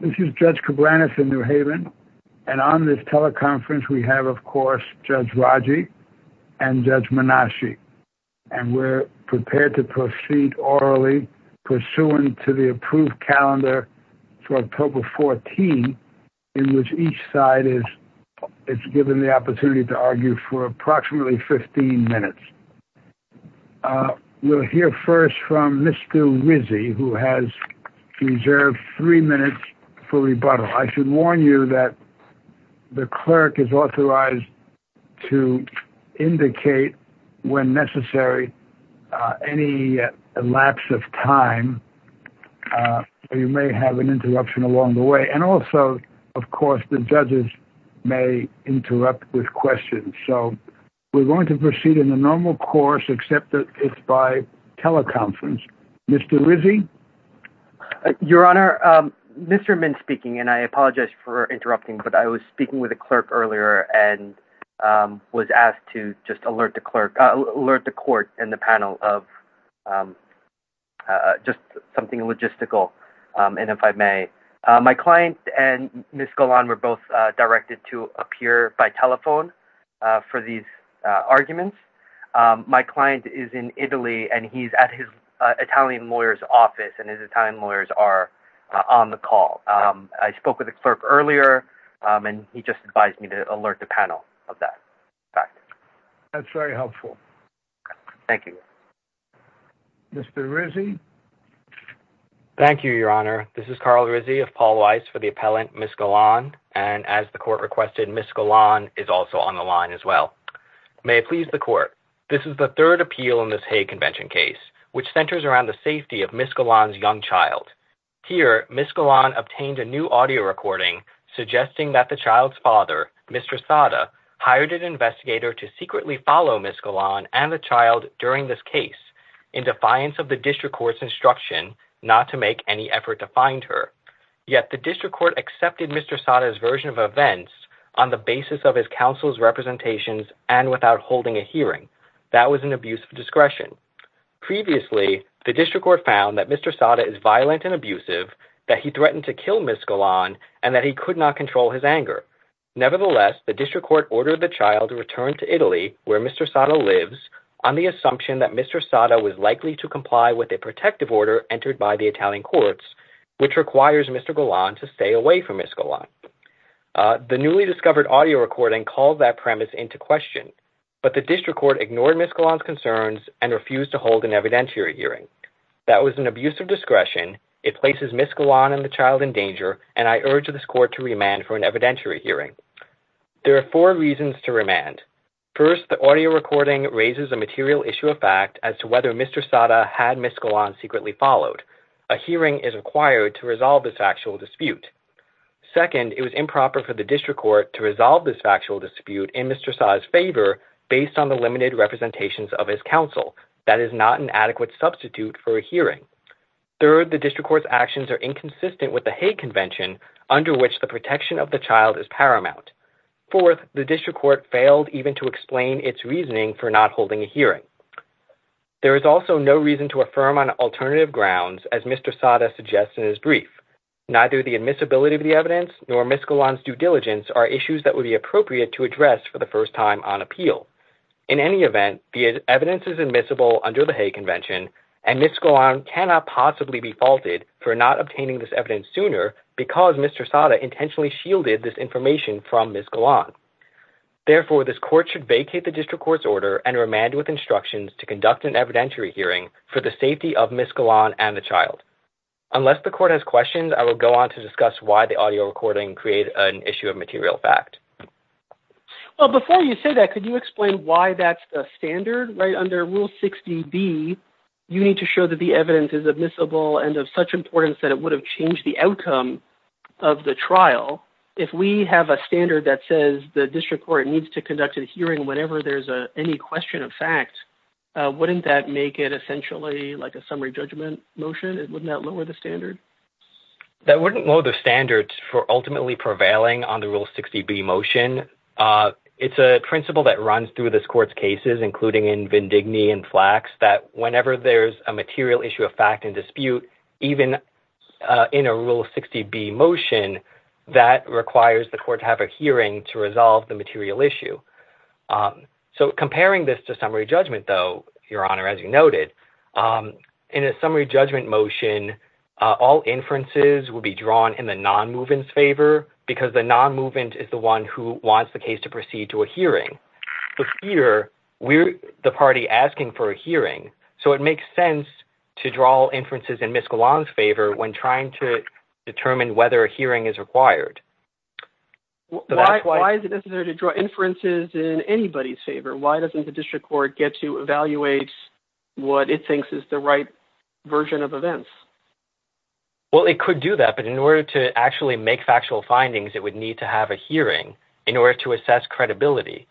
This is Judge Cabranes in New Haven, and on this teleconference, we have, of course, Judge Raji and Judge Manashi, and we're prepared to proceed orally pursuant to the approved calendar for October 14, in which each side is given the opportunity to argue for approximately 15 minutes. We'll hear first from Mr. Rizzi, who has reserved three minutes for rebuttal. I should warn you that the clerk is authorized to indicate when necessary any lapse of time, or you may have an interruption along the way, and also, of course, the judges may interrupt with questions. So we're going to proceed in the normal course, except that it's by teleconference. Mr. Rizzi? Your Honor, Mr. Mintz speaking, and I apologize for interrupting, but I was speaking with the clerk earlier and was asked to just alert the court and the panel of just something logistical, and if I may. My client and Ms. Golan were both directed to appear by telephone for these arguments. My client is in Italy, and he's at his Italian lawyer's office, and his Italian lawyers are on the call. I spoke with the clerk earlier, and he just advised me to alert the panel of that fact. That's very helpful. Thank you. Mr. Rizzi? Thank you, Your Honor. This is Carl Rizzi of Paul Weiss for the appellant, Ms. Golan, and as the court requested, Ms. Golan is also on the line as well. May it please the court, this is the third appeal in this Hague Convention case, which centers around the safety of Ms. Golan's young child. Here, Ms. Golan obtained a new audio recording suggesting that the child's father, Mr. Sada, hired an investigator to secretly follow Ms. Golan and the child during this case in defiance of the district court's instruction not to make any effort to find her. Yet the district court accepted Mr. Sada's version of events on the basis of his counsel's representations and without holding a hearing. That was an abuse of discretion. Previously, the district court found that Mr. Sada is violent and abusive, that he threatened to kill Ms. Golan, and that he could not control his anger. Nevertheless, the district court ordered the child to return to Italy, where Mr. Sada lives, on the assumption that Mr. Sada was likely to comply with a protective order entered by the Italian courts, which requires Mr. Golan to stay away from Ms. Golan. The newly discovered audio recording called that premise into question, but the district court ignored Ms. Golan's concerns and refused to hold an evidentiary hearing. That was an abuse of discretion, it places Ms. Golan and the child in danger, and I urge this court to remand for an evidentiary hearing. There are four reasons to remand. First, the audio recording raises a material issue of fact as to whether Mr. Sada had Ms. Golan secretly followed. A hearing is required to resolve this factual dispute. Second, it was improper for the district court to resolve this factual dispute in Mr. Sada's favor based on the limited representations of his counsel. That is not an adequate substitute for a hearing. Third, the district court's actions are inconsistent with the Hague Convention, under which the protection of the child is paramount. Fourth, the district court failed even to explain its reasoning for not holding a hearing. There is also no reason to affirm on alternative grounds, as Mr. Sada suggests in his brief. Neither the admissibility of the evidence, nor Ms. Golan's due diligence are issues that would be appropriate to address for the first time on appeal. In any event, the evidence is admissible under the Hague Convention, and Ms. Golan cannot possibly be faulted for not obtaining this evidence sooner because Mr. Sada intentionally shielded this information from Ms. Golan. Therefore, this court should vacate the district court's order and remand with instructions to conduct an evidentiary hearing for the safety of Ms. Golan and the child. Unless the court has questions, I will go on to discuss why the audio recording created an issue of material fact. Before you say that, could you explain why that's the standard? Under Rule 60B, you need to show that the evidence is admissible and of such importance that it would have changed the outcome of the trial. If we have a standard that says the district court needs to conduct a hearing whenever there's any question of fact, wouldn't that make it essentially like a summary judgment motion? Wouldn't that lower the standard? That wouldn't lower the standard for ultimately prevailing on the Rule 60B motion. It's a principle that runs through this court's cases, including in Vindigny and Flax, that whenever there's a material issue of fact in dispute, even in a Rule 60B motion, that requires the court to have a hearing to resolve the material issue. Comparing this to summary judgment, though, Your Honor, as you noted, in a summary judgment motion, all inferences would be drawn in the non-movement's favor because the non-movement is the one who wants the case to proceed to a hearing. Here, we're the party asking for a hearing, so it makes sense to draw inferences in Ms. Golan's favor when trying to determine whether a hearing is required. Why is it necessary to draw inferences in anybody's favor? Why doesn't the district court get to evaluate what it thinks is the right version of events? Well, it could do that, but in order to actually make factual findings, it would need to have a hearing in order to assess credibility.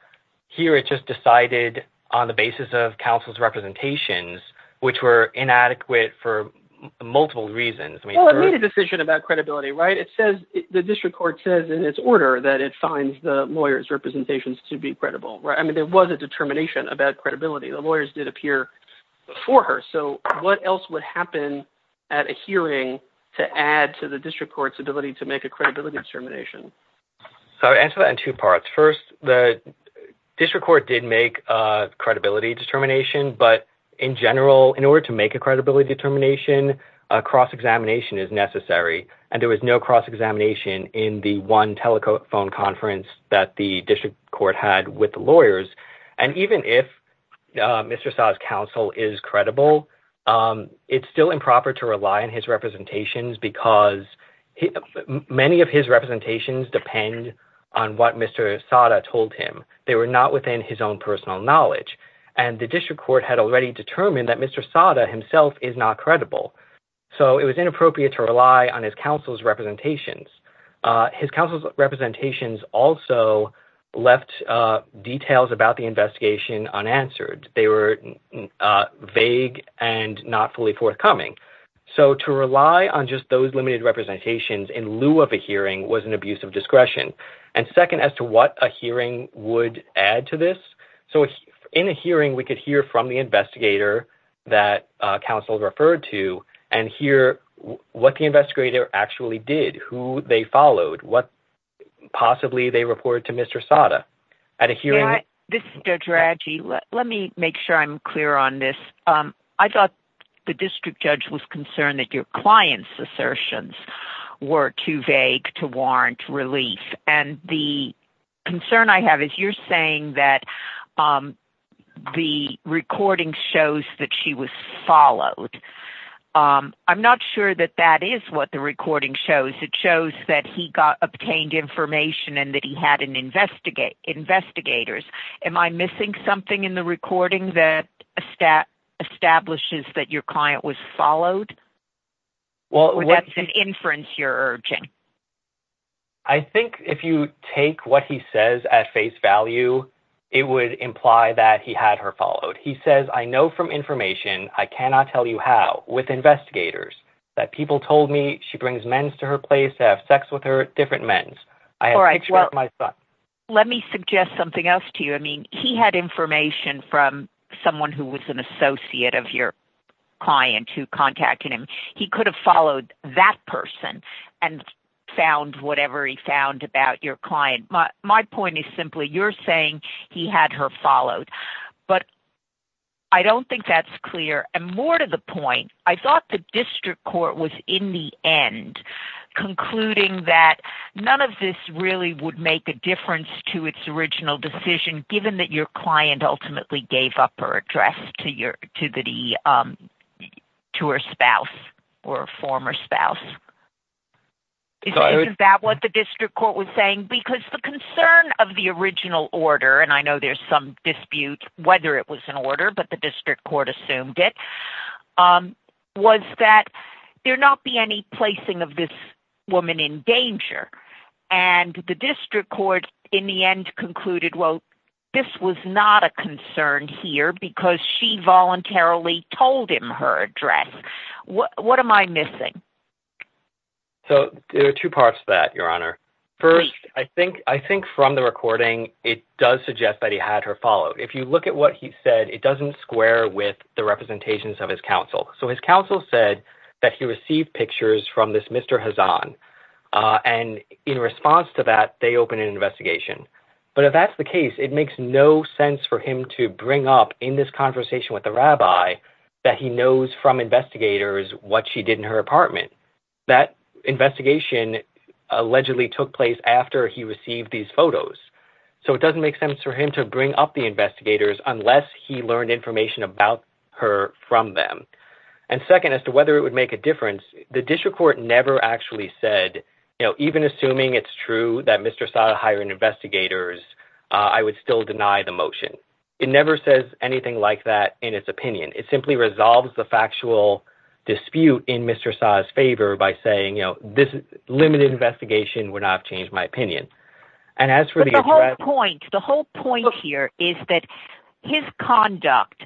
Here, it just decided on the basis of counsel's representations, which were inadequate for multiple reasons. Well, it made a decision about credibility, right? The district court says in its order that it finds the lawyer's representations to be credible, right? I mean, there was a determination about credibility. The lawyers did appear before her, so what else would happen at a hearing to add to the district court's ability to make a credibility determination? I would answer that in two parts. First, the district court did make a credibility determination, but in general, in order to make a credibility determination, a cross-examination is necessary, and there was no cross-examination in the one telephone conference that the district court had with the lawyers. And even if Mr. Sada's counsel is credible, it's still improper to rely on his representations because many of his representations depend on what Mr. Sada told him. They were not within his own personal knowledge, and the district court had already determined that Mr. Sada himself is not credible, so it was inappropriate to rely on his counsel's representations. His counsel's representations also left details about the investigation unanswered. They were vague and not fully forthcoming. So to rely on just those limited representations in lieu of a hearing was an abuse of discretion. And second, as to what a hearing would add to this, so in a hearing, we could hear from the investigator that counsel referred to and hear what the investigator actually did, who they followed, what possibly they reported to Mr. Sada. At a hearing... This is Judge Radji. Let me make sure I'm clear on this. I thought the district judge was concerned that your client's assertions were too vague to warrant relief, and the concern I have is you're saying that the recording shows that she was followed. I'm not sure that that is what the recording shows. It shows that he obtained information and that he had investigators. Am I missing something in the recording that establishes that your client was followed? Or that's an inference you're urging? I think if you take what he says at face value, it would imply that he had her followed. He says, I know from information, I cannot tell you how, with investigators, that people told me she brings men to her place to have sex with her different men. I have pictures of my son. Let me suggest something else to you. I mean, he had information from someone who was an associate of your client who contacted him. He could have followed that person and found whatever he found about your client. My point is simply, you're saying he had her followed. But I don't think that's clear. I thought the district court was in the end concluding that none of this really would make a difference to its original decision, given that your client ultimately gave up her address to her spouse or former spouse. Is that what the district court was saying? Because the concern of the original order, and I know there's some dispute whether it was an order, but the district court assumed it, was that there not be any placing of this woman in danger. And the district court in the end concluded, well, this was not a concern here because she voluntarily told him her address. What am I missing? So there are two parts to that, Your Honor. First, I think from the recording, it does suggest that he had her followed. If you look at what he said, it doesn't square with the representations of his counsel. So his counsel said that he received pictures from this Mr. Hazan, and in response to that, they opened an investigation. But if that's the case, it makes no sense for him to bring up in this conversation with the rabbi that he knows from investigators what she did in her apartment. That investigation allegedly took place after he received these photos. So it doesn't make sense for him to bring up the investigators unless he learned information about her from them. And second, as to whether it would make a difference, the district court never actually said, you know, even assuming it's true that Mr. Saa hired investigators, I would still deny the motion. It never says anything like that in its opinion. It simply resolves the factual dispute in Mr. Saa's favor by saying, you know, this limited investigation would not have changed my opinion. But the whole point here is that his conduct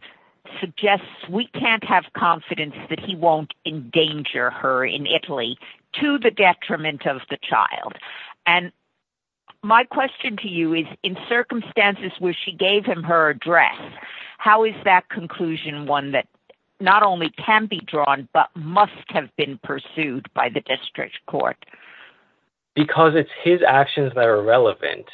suggests we can't have confidence that he won't endanger her in Italy to the detriment of the child. And my question to you is, in circumstances where she gave him her address, how is that conclusion one that not only can be drawn but must have been pursued by the district court? Because it's his actions that are relevant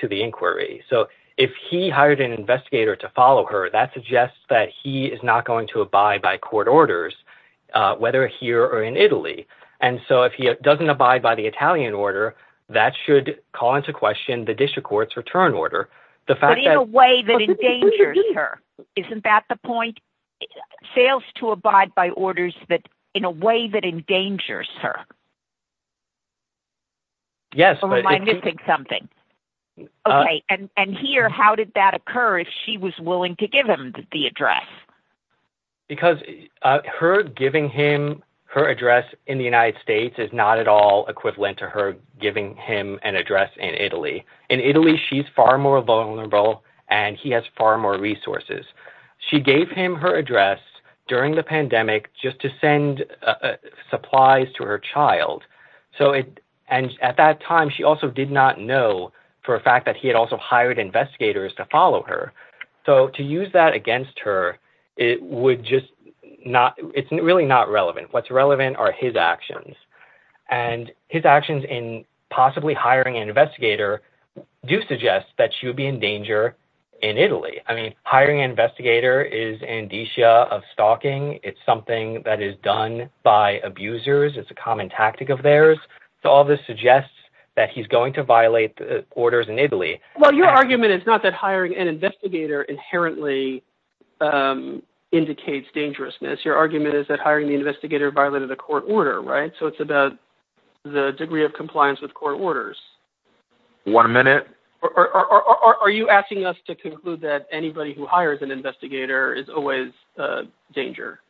to the inquiry. So if he hired an investigator to follow her, that suggests that he is not going to abide by court orders, whether here or in Italy. And so if he doesn't abide by the Italian order, that should call into question the district court's return order. But in a way that endangers her. Isn't that the point? Fails to abide by orders that in a way that endangers her. Yes. And here, how did that occur if she was willing to give him the address? Because her giving him her address in the United States is not at all equivalent to her giving him an address in Italy. In Italy, she's far more vulnerable and he has far more resources. She gave him her address during the pandemic just to send supplies to her child. So and at that time, she also did not know for a fact that he had also hired investigators to follow her. So to use that against her, it would just not it's really not relevant. What's relevant are his actions and his actions in possibly hiring an investigator do suggest that she would be in danger in Italy. I mean, hiring an investigator is an indicia of stalking. It's something that is done by abusers. It's a common tactic of theirs. So all this suggests that he's going to violate the orders in Italy. Well, your argument is not that hiring an investigator inherently indicates dangerousness. Your argument is that hiring the investigator violated the court order. Right. So it's about the degree of compliance with court orders. One minute. Are you asking us to conclude that anybody who hires an investigator is always a danger?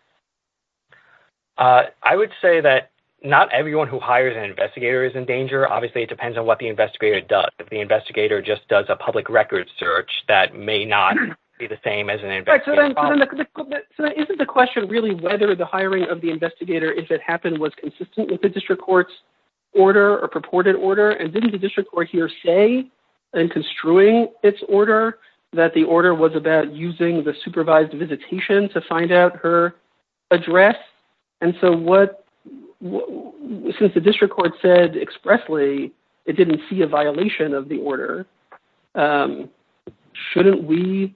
I would say that not everyone who hires an investigator is in danger. Obviously, it depends on what the investigator does. If the investigator just does a public record search, that may not be the same as an investigation. So isn't the question really whether the hiring of the investigator, if it happened, was consistent with the district court's order or purported order? And didn't the district court here say in construing its order that the order was about using the supervised visitation to find out her address? And so what the district court said expressly, it didn't see a violation of the order. Shouldn't we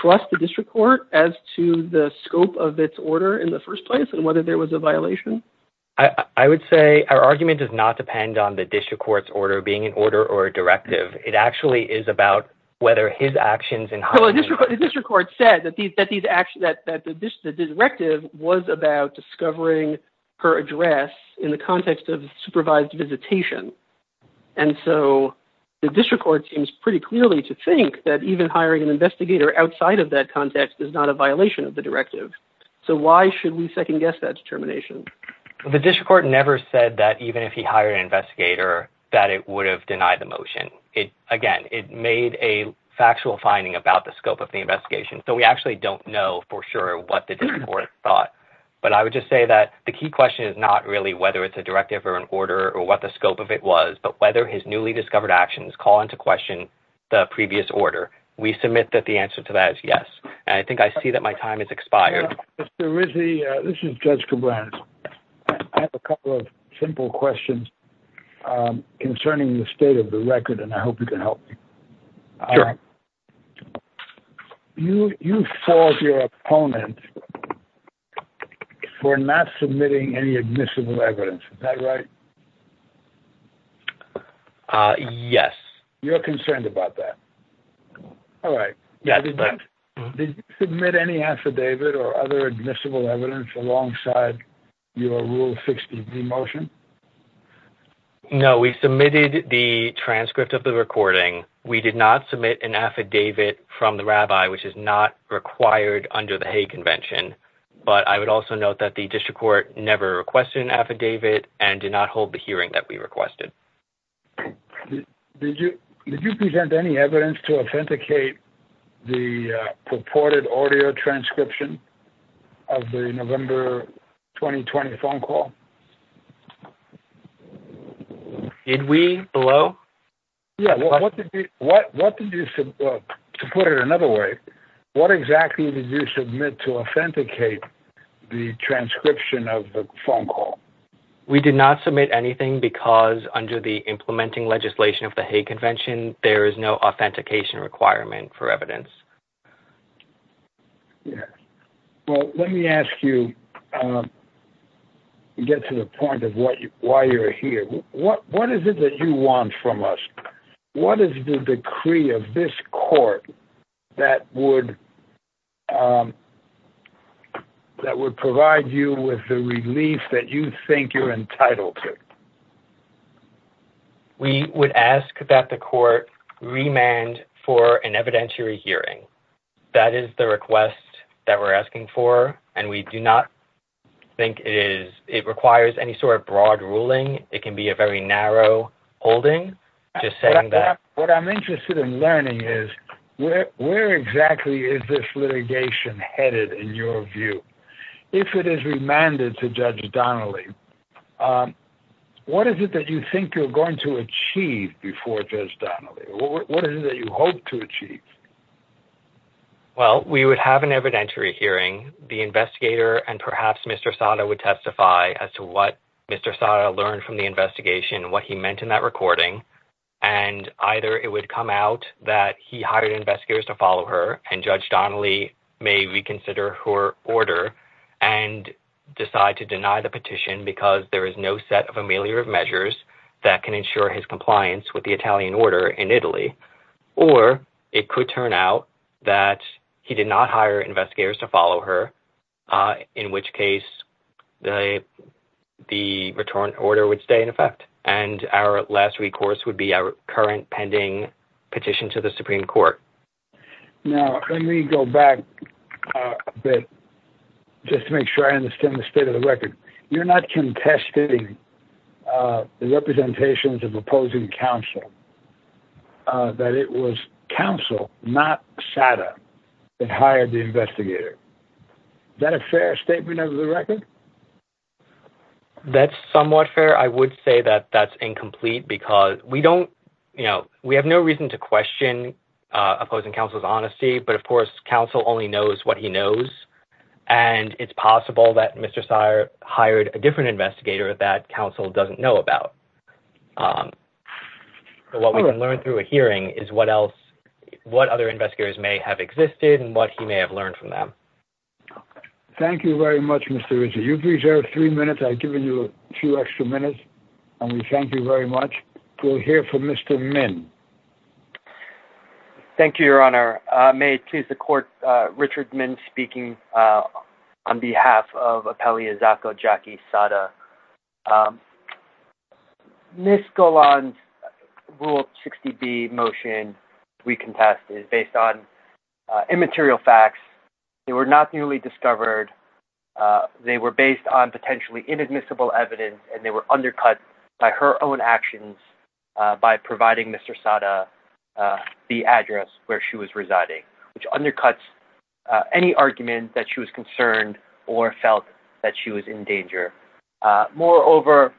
trust the district court as to the scope of its order in the first place and whether there was a violation? I would say our argument does not depend on the district court's order being an order or a directive. It actually is about whether his actions in hiring the investigator. The district court said that the directive was about discovering her address in the context of supervised visitation. And so the district court seems pretty clearly to think that even hiring an investigator outside of that context is not a violation of the directive. So why should we second guess that determination? The district court never said that even if he hired an investigator, that it would have denied the motion. Again, it made a factual finding about the scope of the investigation. So we actually don't know for sure what the district court thought. But I would just say that the key question is not really whether it's a directive or an order or what the scope of it was, but whether his newly discovered actions call into question the previous order. We submit that the answer to that is yes. And I think I see that my time has expired. Mr. Rizzi, this is Judge Cabrera. I have a couple of simple questions concerning the state of the record, and I hope you can help me. Sure. You fault your opponent for not submitting any admissible evidence. Is that right? Yes. You're concerned about that. All right. Yeah. Did you submit any affidavit or other admissible evidence alongside your Rule 60B motion? No, we submitted the transcript of the recording. We did not submit an affidavit from the rabbi, which is not required under the Hague Convention. But I would also note that the district court never requested an affidavit and did not hold the hearing that we requested. Did you present any evidence to authenticate the purported audio transcription of the November 2020 phone call? Did we? Hello? Yeah. To put it another way, what exactly did you submit to authenticate the transcription of the phone call? We did not submit anything because under the implementing legislation of the Hague Convention, there is no authentication requirement for evidence. Yes. Well, let me ask you to get to the point of why you're here. What is it that you want from us? What is the decree of this court that would provide you with the relief that you think you're entitled to? We would ask that the court remand for an evidentiary hearing. That is the request that we're asking for, and we do not think it requires any sort of broad ruling. It can be a very narrow holding. What I'm interested in learning is where exactly is this litigation headed in your view? If it is remanded to Judge Donnelly, what is it that you think you're going to achieve before Judge Donnelly? What is it that you hope to achieve? Well, we would have an evidentiary hearing. The investigator and perhaps Mr. Sada would testify as to what Mr. Sada learned from the investigation, what he meant in that recording, and either it would come out that he hired investigators to follow her and Judge Donnelly may reconsider her order and decide to deny the petition because there is no set of ameliorative measures that can ensure his compliance with the Italian order in Italy, or it could turn out that he did not hire investigators to follow her, in which case the return order would stay in effect, and our last recourse would be our current pending petition to the Supreme Court. Now, let me go back a bit just to make sure I understand the state of the record. You're not contesting the representations of opposing counsel, that it was counsel, not Sada, that hired the investigator. Is that a fair statement of the record? That's somewhat fair. I would say that that's incomplete because we have no reason to question opposing counsel's honesty, but, of course, counsel only knows what he knows, and it's possible that Mr. Sada hired a different investigator that counsel doesn't know about. What we can learn through a hearing is what other investigators may have existed and what he may have learned from them. Thank you very much, Mr. Rizzi. You've reserved three minutes. I've given you a few extra minutes, and we thank you very much. Thank you, Your Honor. May it please the Court, Richard Min speaking on behalf of Appellee Izako Jackie Sada. Ms. Golan's Rule 60B motion we contest is based on immaterial facts. They were not newly discovered. They were based on potentially inadmissible evidence, and they were undercut by her own actions by providing Mr. Sada the address where she was residing, which undercuts any argument that she was concerned or felt that she was in danger. Moreover,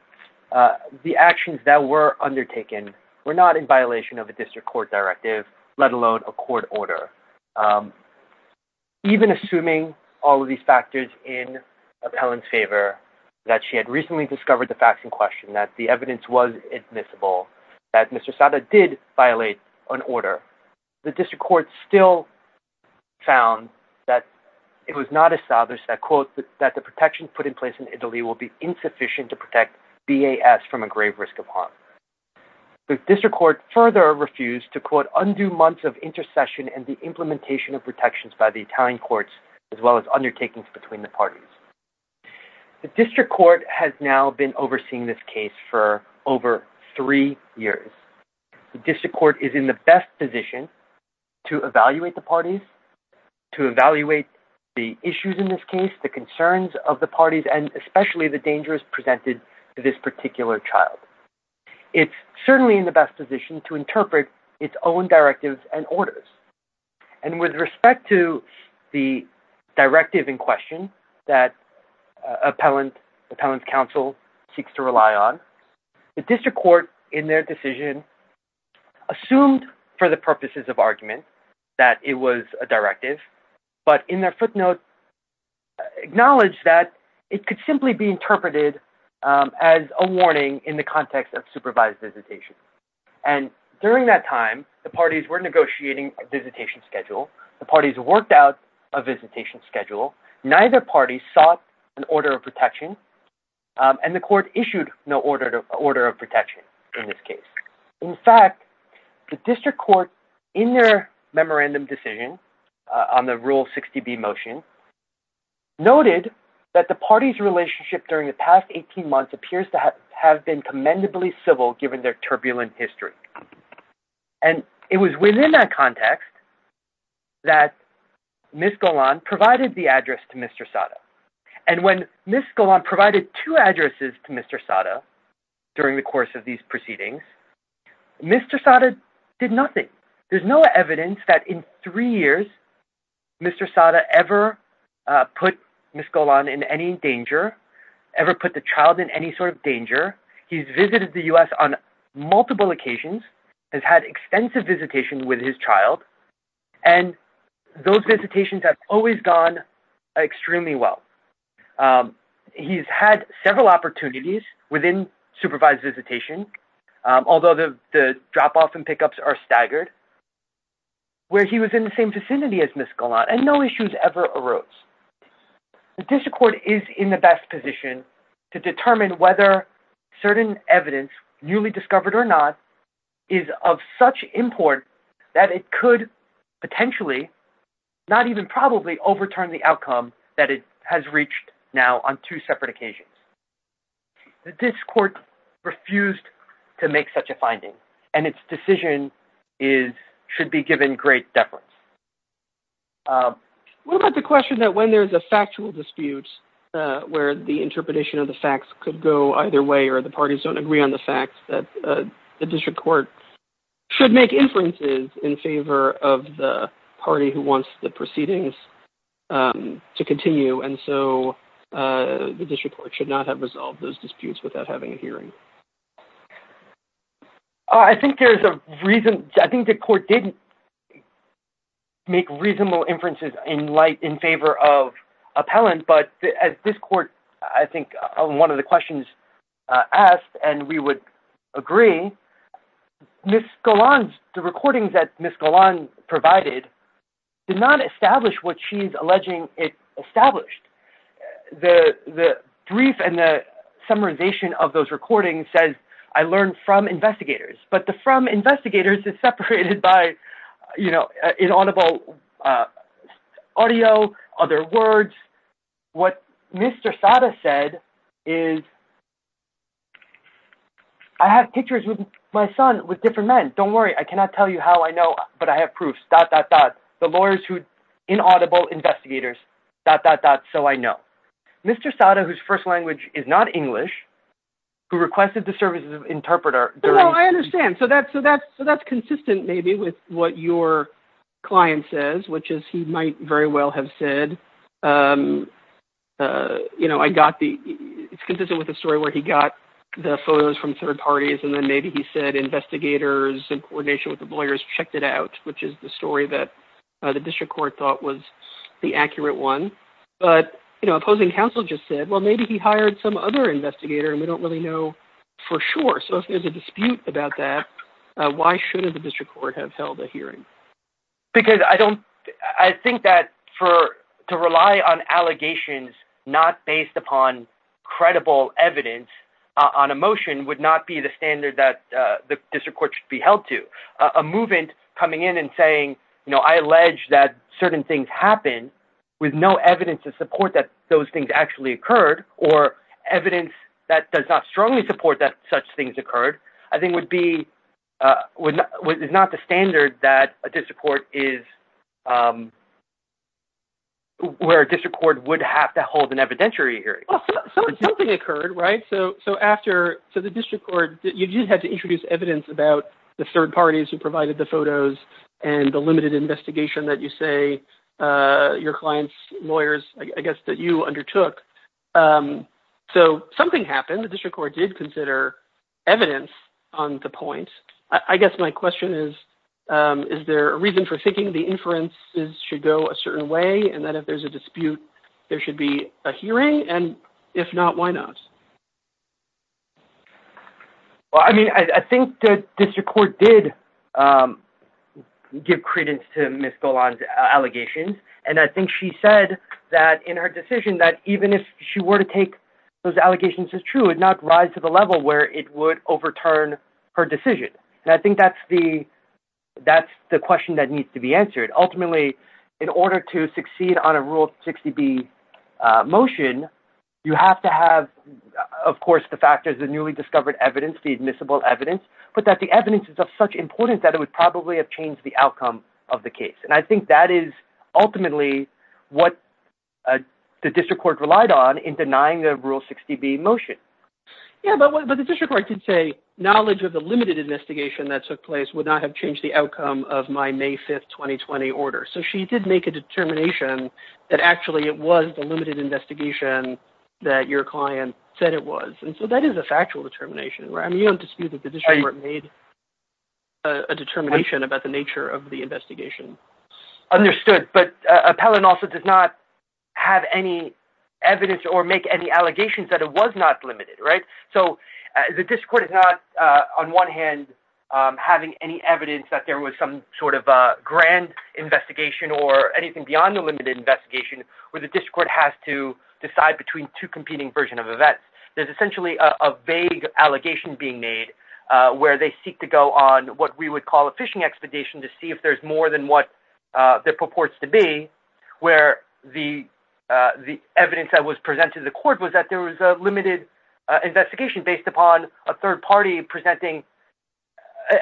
the actions that were undertaken were not in violation of a district court directive, let alone a court order. Even assuming all of these factors in Appellant's favor, that she had recently discovered the facts in question, that the evidence was admissible, that Mr. Sada did violate an order, the district court still found that it was not established that, quote, that the protection put in place in Italy will be insufficient to protect BAS from a grave risk of harm. The district court further refused to, quote, undo months of intercession and the implementation of protections by the Italian courts, as well as undertakings between the parties. The district court has now been overseeing this case for over three years. The district court is in the best position to evaluate the parties, to evaluate the issues in this case, the concerns of the parties, and especially the dangers presented to this particular child. It's certainly in the best position to interpret its own directives and orders. And with respect to the directive in question that Appellant's counsel seeks to rely on, the district court, in their decision, assumed for the purposes of argument that it was a directive, but in their footnote acknowledged that it could simply be interpreted as a warning in the context of supervised visitation. And during that time, the parties were negotiating a visitation schedule. The parties worked out a visitation schedule. Neither party sought an order of protection, and the court issued no order of protection in this case. In fact, the district court, in their memorandum decision on the Rule 60B motion, noted that the parties' relationship during the past 18 months appears to have been commendably civil, given their turbulent history. And it was within that context that Ms. Golan provided the address to Mr. Sada. And when Ms. Golan provided two addresses to Mr. Sada during the course of these proceedings, Mr. Sada did nothing. There's no evidence that in three years Mr. Sada ever put Ms. Golan in any danger, ever put the child in any sort of danger. He's visited the U.S. on multiple occasions, has had extensive visitation with his child, and those visitations have always gone extremely well. He's had several opportunities within supervised visitation, although the drop-offs and pickups are staggered, where he was in the same vicinity as Ms. Golan, and no issues ever arose. The district court is in the best position to determine whether certain evidence, newly discovered or not, is of such import that it could potentially, not even probably, overturn the outcome that it has reached now on two separate occasions. The district court refused to make such a finding, and its decision should be given great deference. What about the question that when there's a factual dispute where the interpretation of the facts could go either way or the parties don't agree on the facts, that the district court should make inferences in favor of the party who wants the proceedings to continue, and so the district court should not have resolved those disputes without having a hearing? I think there's a reason. I think the court did make reasonable inferences in light, in favor of appellant, but as this court, I think, on one of the questions asked, and we would agree, Ms. Golan's, the recordings that Ms. Golan provided, did not establish what she's alleging it established. The brief and the summarization of those recordings says, I learned from investigators, but the from investigators is separated by inaudible audio, other words. What Mr. Sada said is, I have pictures with my son with different men, don't worry, I cannot tell you how I know, but I have proof, dot, dot, dot. The lawyers who, inaudible investigators, dot, dot, dot, so I know. Mr. Sada, whose first language is not English, who requested the services of interpreter during I understand, so that's consistent maybe with what your client says, which is he might very well have said, you know, I got the, it's consistent with the story where he got the photos from third parties, and then maybe he said investigators in coordination with the lawyers checked it out, which is the story that the district court thought was the accurate one. But, you know, opposing counsel just said, well, maybe he hired some other investigator, and we don't really know for sure, so if there's a dispute about that, why shouldn't the district court have held a hearing? Because I don't, I think that for, to rely on allegations not based upon credible evidence on a motion would not be the standard that the district court should be held to. A movement coming in and saying, you know, I allege that certain things happen, with no evidence to support that those things actually occurred, or evidence that does not strongly support that such things occurred, I think would be, is not the standard that a district court is, where a district court would have to hold an evidentiary hearing. Well, something occurred, right? So after, so the district court, you just had to introduce evidence about the third parties who provided the photos and the limited investigation that you say your client's lawyers, I guess, that you undertook. So something happened. The district court did consider evidence on the point. I guess my question is, is there a reason for thinking the inferences should go a certain way, and that if there's a dispute, there should be a hearing, and if not, why not? Well, I mean, I think the district court did give credence to Ms. Golan's allegations, and I think she said that in her decision that even if she were to take those allegations as true, it would not rise to the level where it would overturn her decision. And I think that's the question that needs to be answered. Ultimately, in order to succeed on a Rule 60B motion, you have to have, of course, the factors, the newly discovered evidence, the admissible evidence, but that the evidence is of such importance that it would probably have changed the outcome of the case. And I think that is ultimately what the district court relied on in denying the Rule 60B motion. Yeah, but the district court did say knowledge of the limited investigation that took place would not have changed the outcome of my May 5, 2020 order. So she did make a determination that actually it was the limited investigation that your client said it was. And so that is a factual determination, right? I mean, you don't dispute that the district court made a determination about the nature of the investigation. Understood, but Appellant also does not have any evidence or make any allegations that it was not limited, right? So the district court is not, on one hand, having any evidence that there was some sort of grand investigation or anything beyond the limited investigation where the district court has to decide between two competing versions of events. There's essentially a vague allegation being made where they seek to go on what we would call a fishing expedition to see if there's more than what there purports to be, where the evidence that was presented to the court was that there was a limited investigation based upon a third party presenting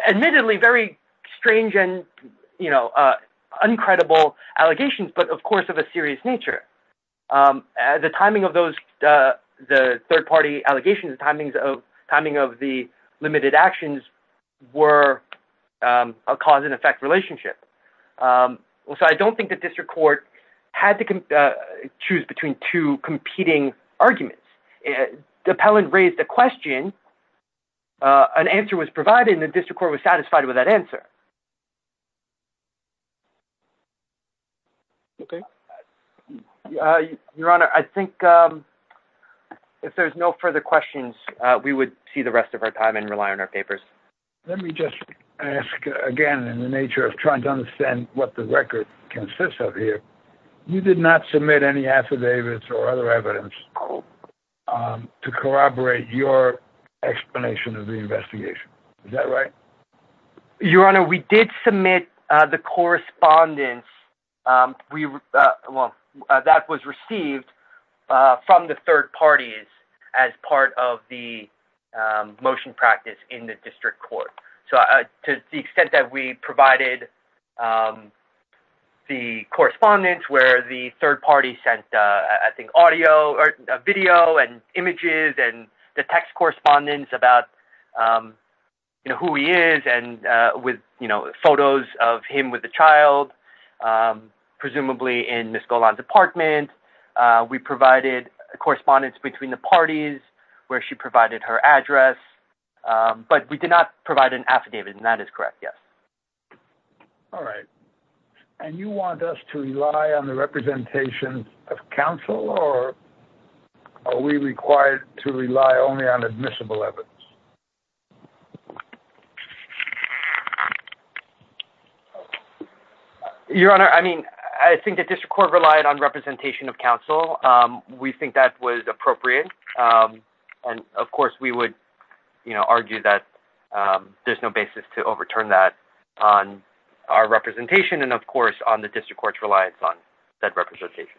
admittedly very strange and, you know, uncredible allegations, but of course of a serious nature. The timing of those, the third party allegations, timing of the limited actions were a cause and effect relationship. So I don't think the district court had to choose between two competing arguments. Appellant raised a question, an answer was provided, and the district court was satisfied with that answer. Your Honor, I think if there's no further questions, we would see the rest of our time and rely on our papers. Let me just ask again in the nature of trying to understand what the record consists of here. You did not submit any affidavits or other evidence to corroborate your explanation of the investigation. Is that right? Your Honor, we did submit the correspondence that was received from the third parties as part of the motion practice in the district court. So to the extent that we provided the correspondence where the third party sent, I think, audio or video and images and the text correspondence about, you know, who he is and with, you know, photos of him with the child, presumably in Ms. Golan's apartment. We provided correspondence between the parties where she provided her address, but we did not provide an affidavit, and that is correct, yes. All right. And you want us to rely on the representation of counsel, or are we required to rely only on admissible evidence? Your Honor, I mean, I think the district court relied on representation of counsel. We think that was appropriate. And, of course, we would, you know, argue that there's no basis to overturn that on our representation and, of course, on the district court's reliance on that representation.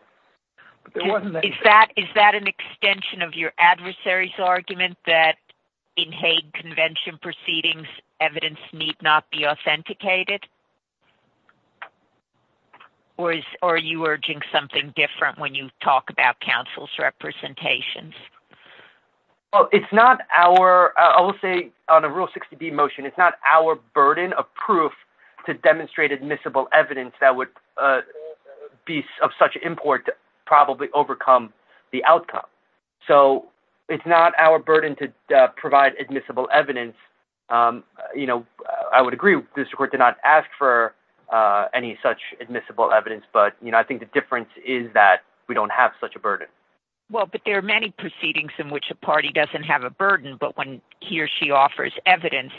Is that an extension of your adversary's argument that in Hague Convention proceedings, evidence need not be authenticated? Or are you urging something different when you talk about counsel's representations? Well, it's not our – I will say on a Rule 60B motion, it's not our burden of proof to demonstrate admissible evidence that would be of such import to probably overcome the outcome. So it's not our burden to provide admissible evidence. You know, I would agree the district court did not ask for any such admissible evidence, but, you know, I think the difference is that we don't have such a burden. Well, but there are many proceedings in which a party doesn't have a burden, but when he or she offers evidence,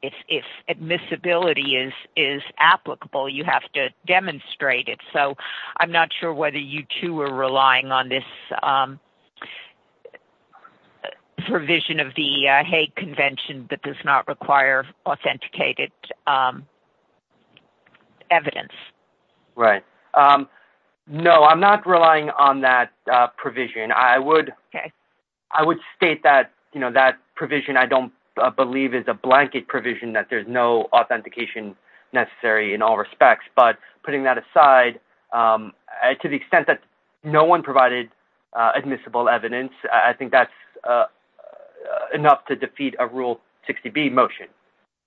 if admissibility is applicable, you have to demonstrate it. So I'm not sure whether you two are relying on this provision of the Hague Convention that does not require authenticated evidence. Right. No, I'm not relying on that provision. I would state that, you know, that provision I don't believe is a blanket provision, that there's no authentication necessary in all respects. But putting that aside, to the extent that no one provided admissible evidence, I think that's enough to defeat a Rule 60B motion.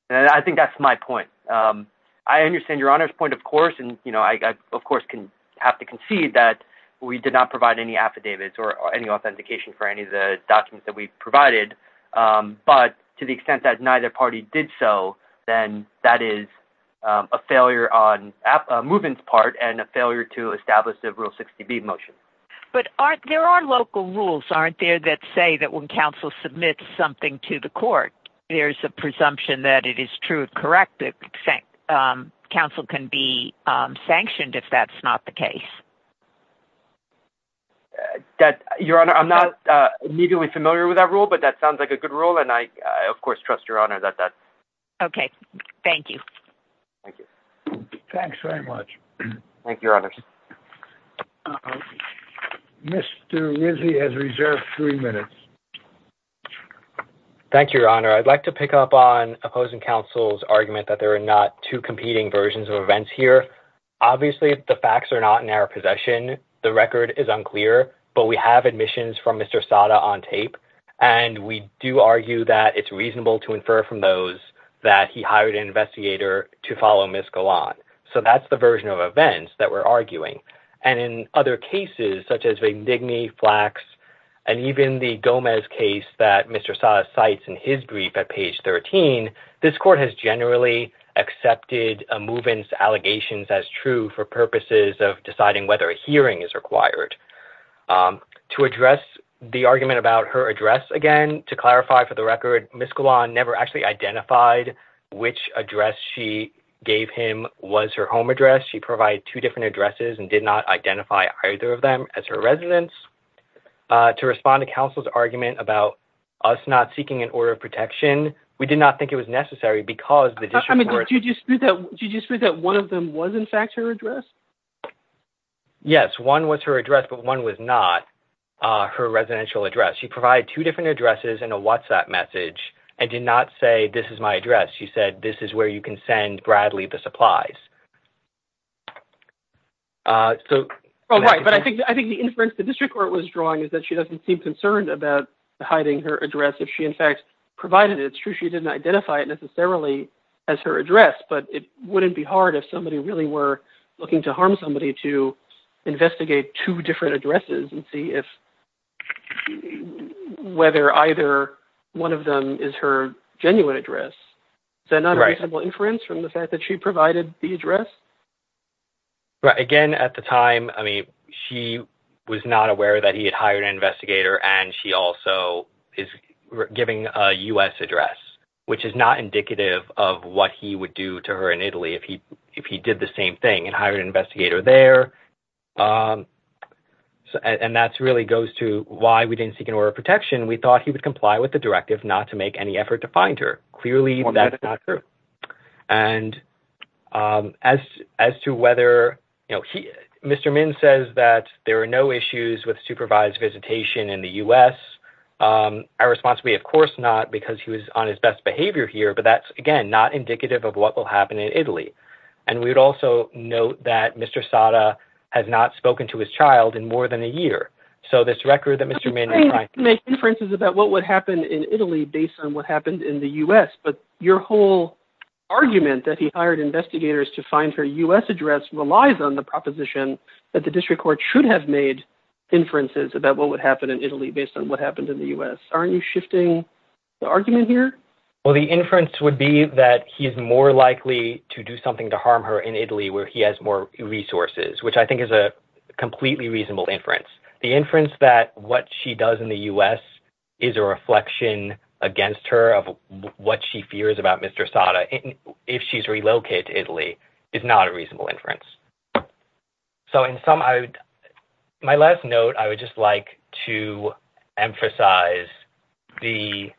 And I think that's my point. I understand Your Honor's point, of course, and, you know, I, of course, can have to concede that we did not provide any affidavits or any authentication for any of the documents that we provided. But to the extent that neither party did so, then that is a failure on a movement's part and a failure to establish a Rule 60B motion. But there are local rules, aren't there, that say that when counsel submits something to the court, there's a presumption that it is true and correct that counsel can be sanctioned if that's not the case? Your Honor, I'm not immediately familiar with that rule, but that sounds like a good rule, and I, of course, trust Your Honor that that's... Okay. Thank you. Thank you. Thanks very much. Thank you, Your Honors. Mr. Rizzi has reserved three minutes. Thank you, Your Honor. I'd like to pick up on opposing counsel's argument that there are not two competing versions of events here. Obviously, the facts are not in our possession. The record is unclear, but we have admissions from Mr. Sada on tape, and we do argue that it's reasonable to infer from those that he hired an investigator to follow Ms. Galan. So that's the version of events that we're arguing. And in other cases, such as Vignigny, Flax, and even the Gomez case that Mr. Sada cites in his brief at page 13, this court has generally accepted a move-in's allegations as true for purposes of deciding whether a hearing is required. To address the argument about her address again, to clarify for the record, Ms. Galan never actually identified which address she gave him was her home address. She provided two different addresses and did not identify either of them as her residence. To respond to counsel's argument about us not seeking an order of protection, we did not think it was necessary because the district court— I mean, did you dispute that one of them was, in fact, her address? Yes, one was her address, but one was not her residential address. She provided two different addresses and a WhatsApp message and did not say, this is my address. She said, this is where you can send Bradley the supplies. So— Oh, right, but I think the inference the district court was drawing is that she doesn't seem concerned about hiding her address if she, in fact, provided it. It's true she didn't identify it necessarily as her address, but it wouldn't be hard if somebody really were looking to harm somebody to investigate two different addresses and see if—whether either one of them is her genuine address. Is that not a reasonable inference from the fact that she provided the address? Again, at the time, I mean, she was not aware that he had hired an investigator and she also is giving a U.S. address, which is not indicative of what he would do to her in Italy if he did the same thing and hired an investigator there. And that really goes to why we didn't seek an order of protection. We thought he would comply with the directive not to make any effort to find her. Clearly, that's not true. And as to whether—Mr. Min says that there are no issues with supervised visitation in the U.S. Our response would be, of course not, because he was on his best behavior here, but that's, again, not indicative of what will happen in Italy. And we would also note that Mr. Sada has not spoken to his child in more than a year. So this record that Mr. Min— But you can make inferences about what would happen in Italy based on what happened in the U.S., but your whole argument that he hired investigators to find her U.S. address relies on the proposition that the district court should have made inferences about what would happen in Italy based on what happened in the U.S. Aren't you shifting the argument here? Well, the inference would be that he is more likely to do something to harm her in Italy where he has more resources, which I think is a completely reasonable inference. The inference that what she does in the U.S. is a reflection against her of what she fears about Mr. Sada if she's relocated to Italy is not a reasonable inference. So in some—my last note, I would just like to emphasize the,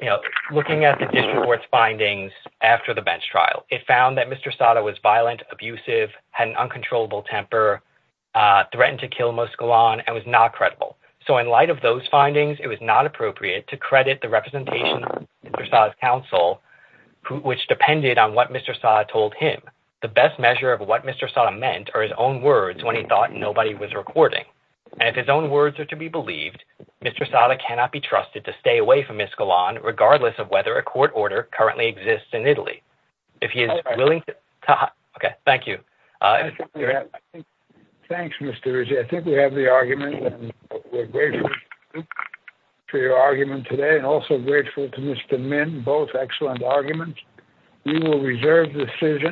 you know, looking at the district court's findings after the bench trial. It found that Mr. Sada was violent, abusive, had an uncontrollable temper, threatened to kill Moskalon, and was not credible. So in light of those findings, it was not appropriate to credit the representation of Mr. Sada's counsel, which depended on what Mr. Sada told him. The best measure of what Mr. Sada meant are his own words when he thought nobody was recording. And if his own words are to be believed, Mr. Sada cannot be trusted to stay away from Moskalon, regardless of whether a court order currently exists in Italy. If he is willing to— Okay, thank you. Thanks, Mr. Rizzi. I think we have the argument, and we're grateful to your argument today and also grateful to Mr. Min, both excellent arguments. We will reserve the decision.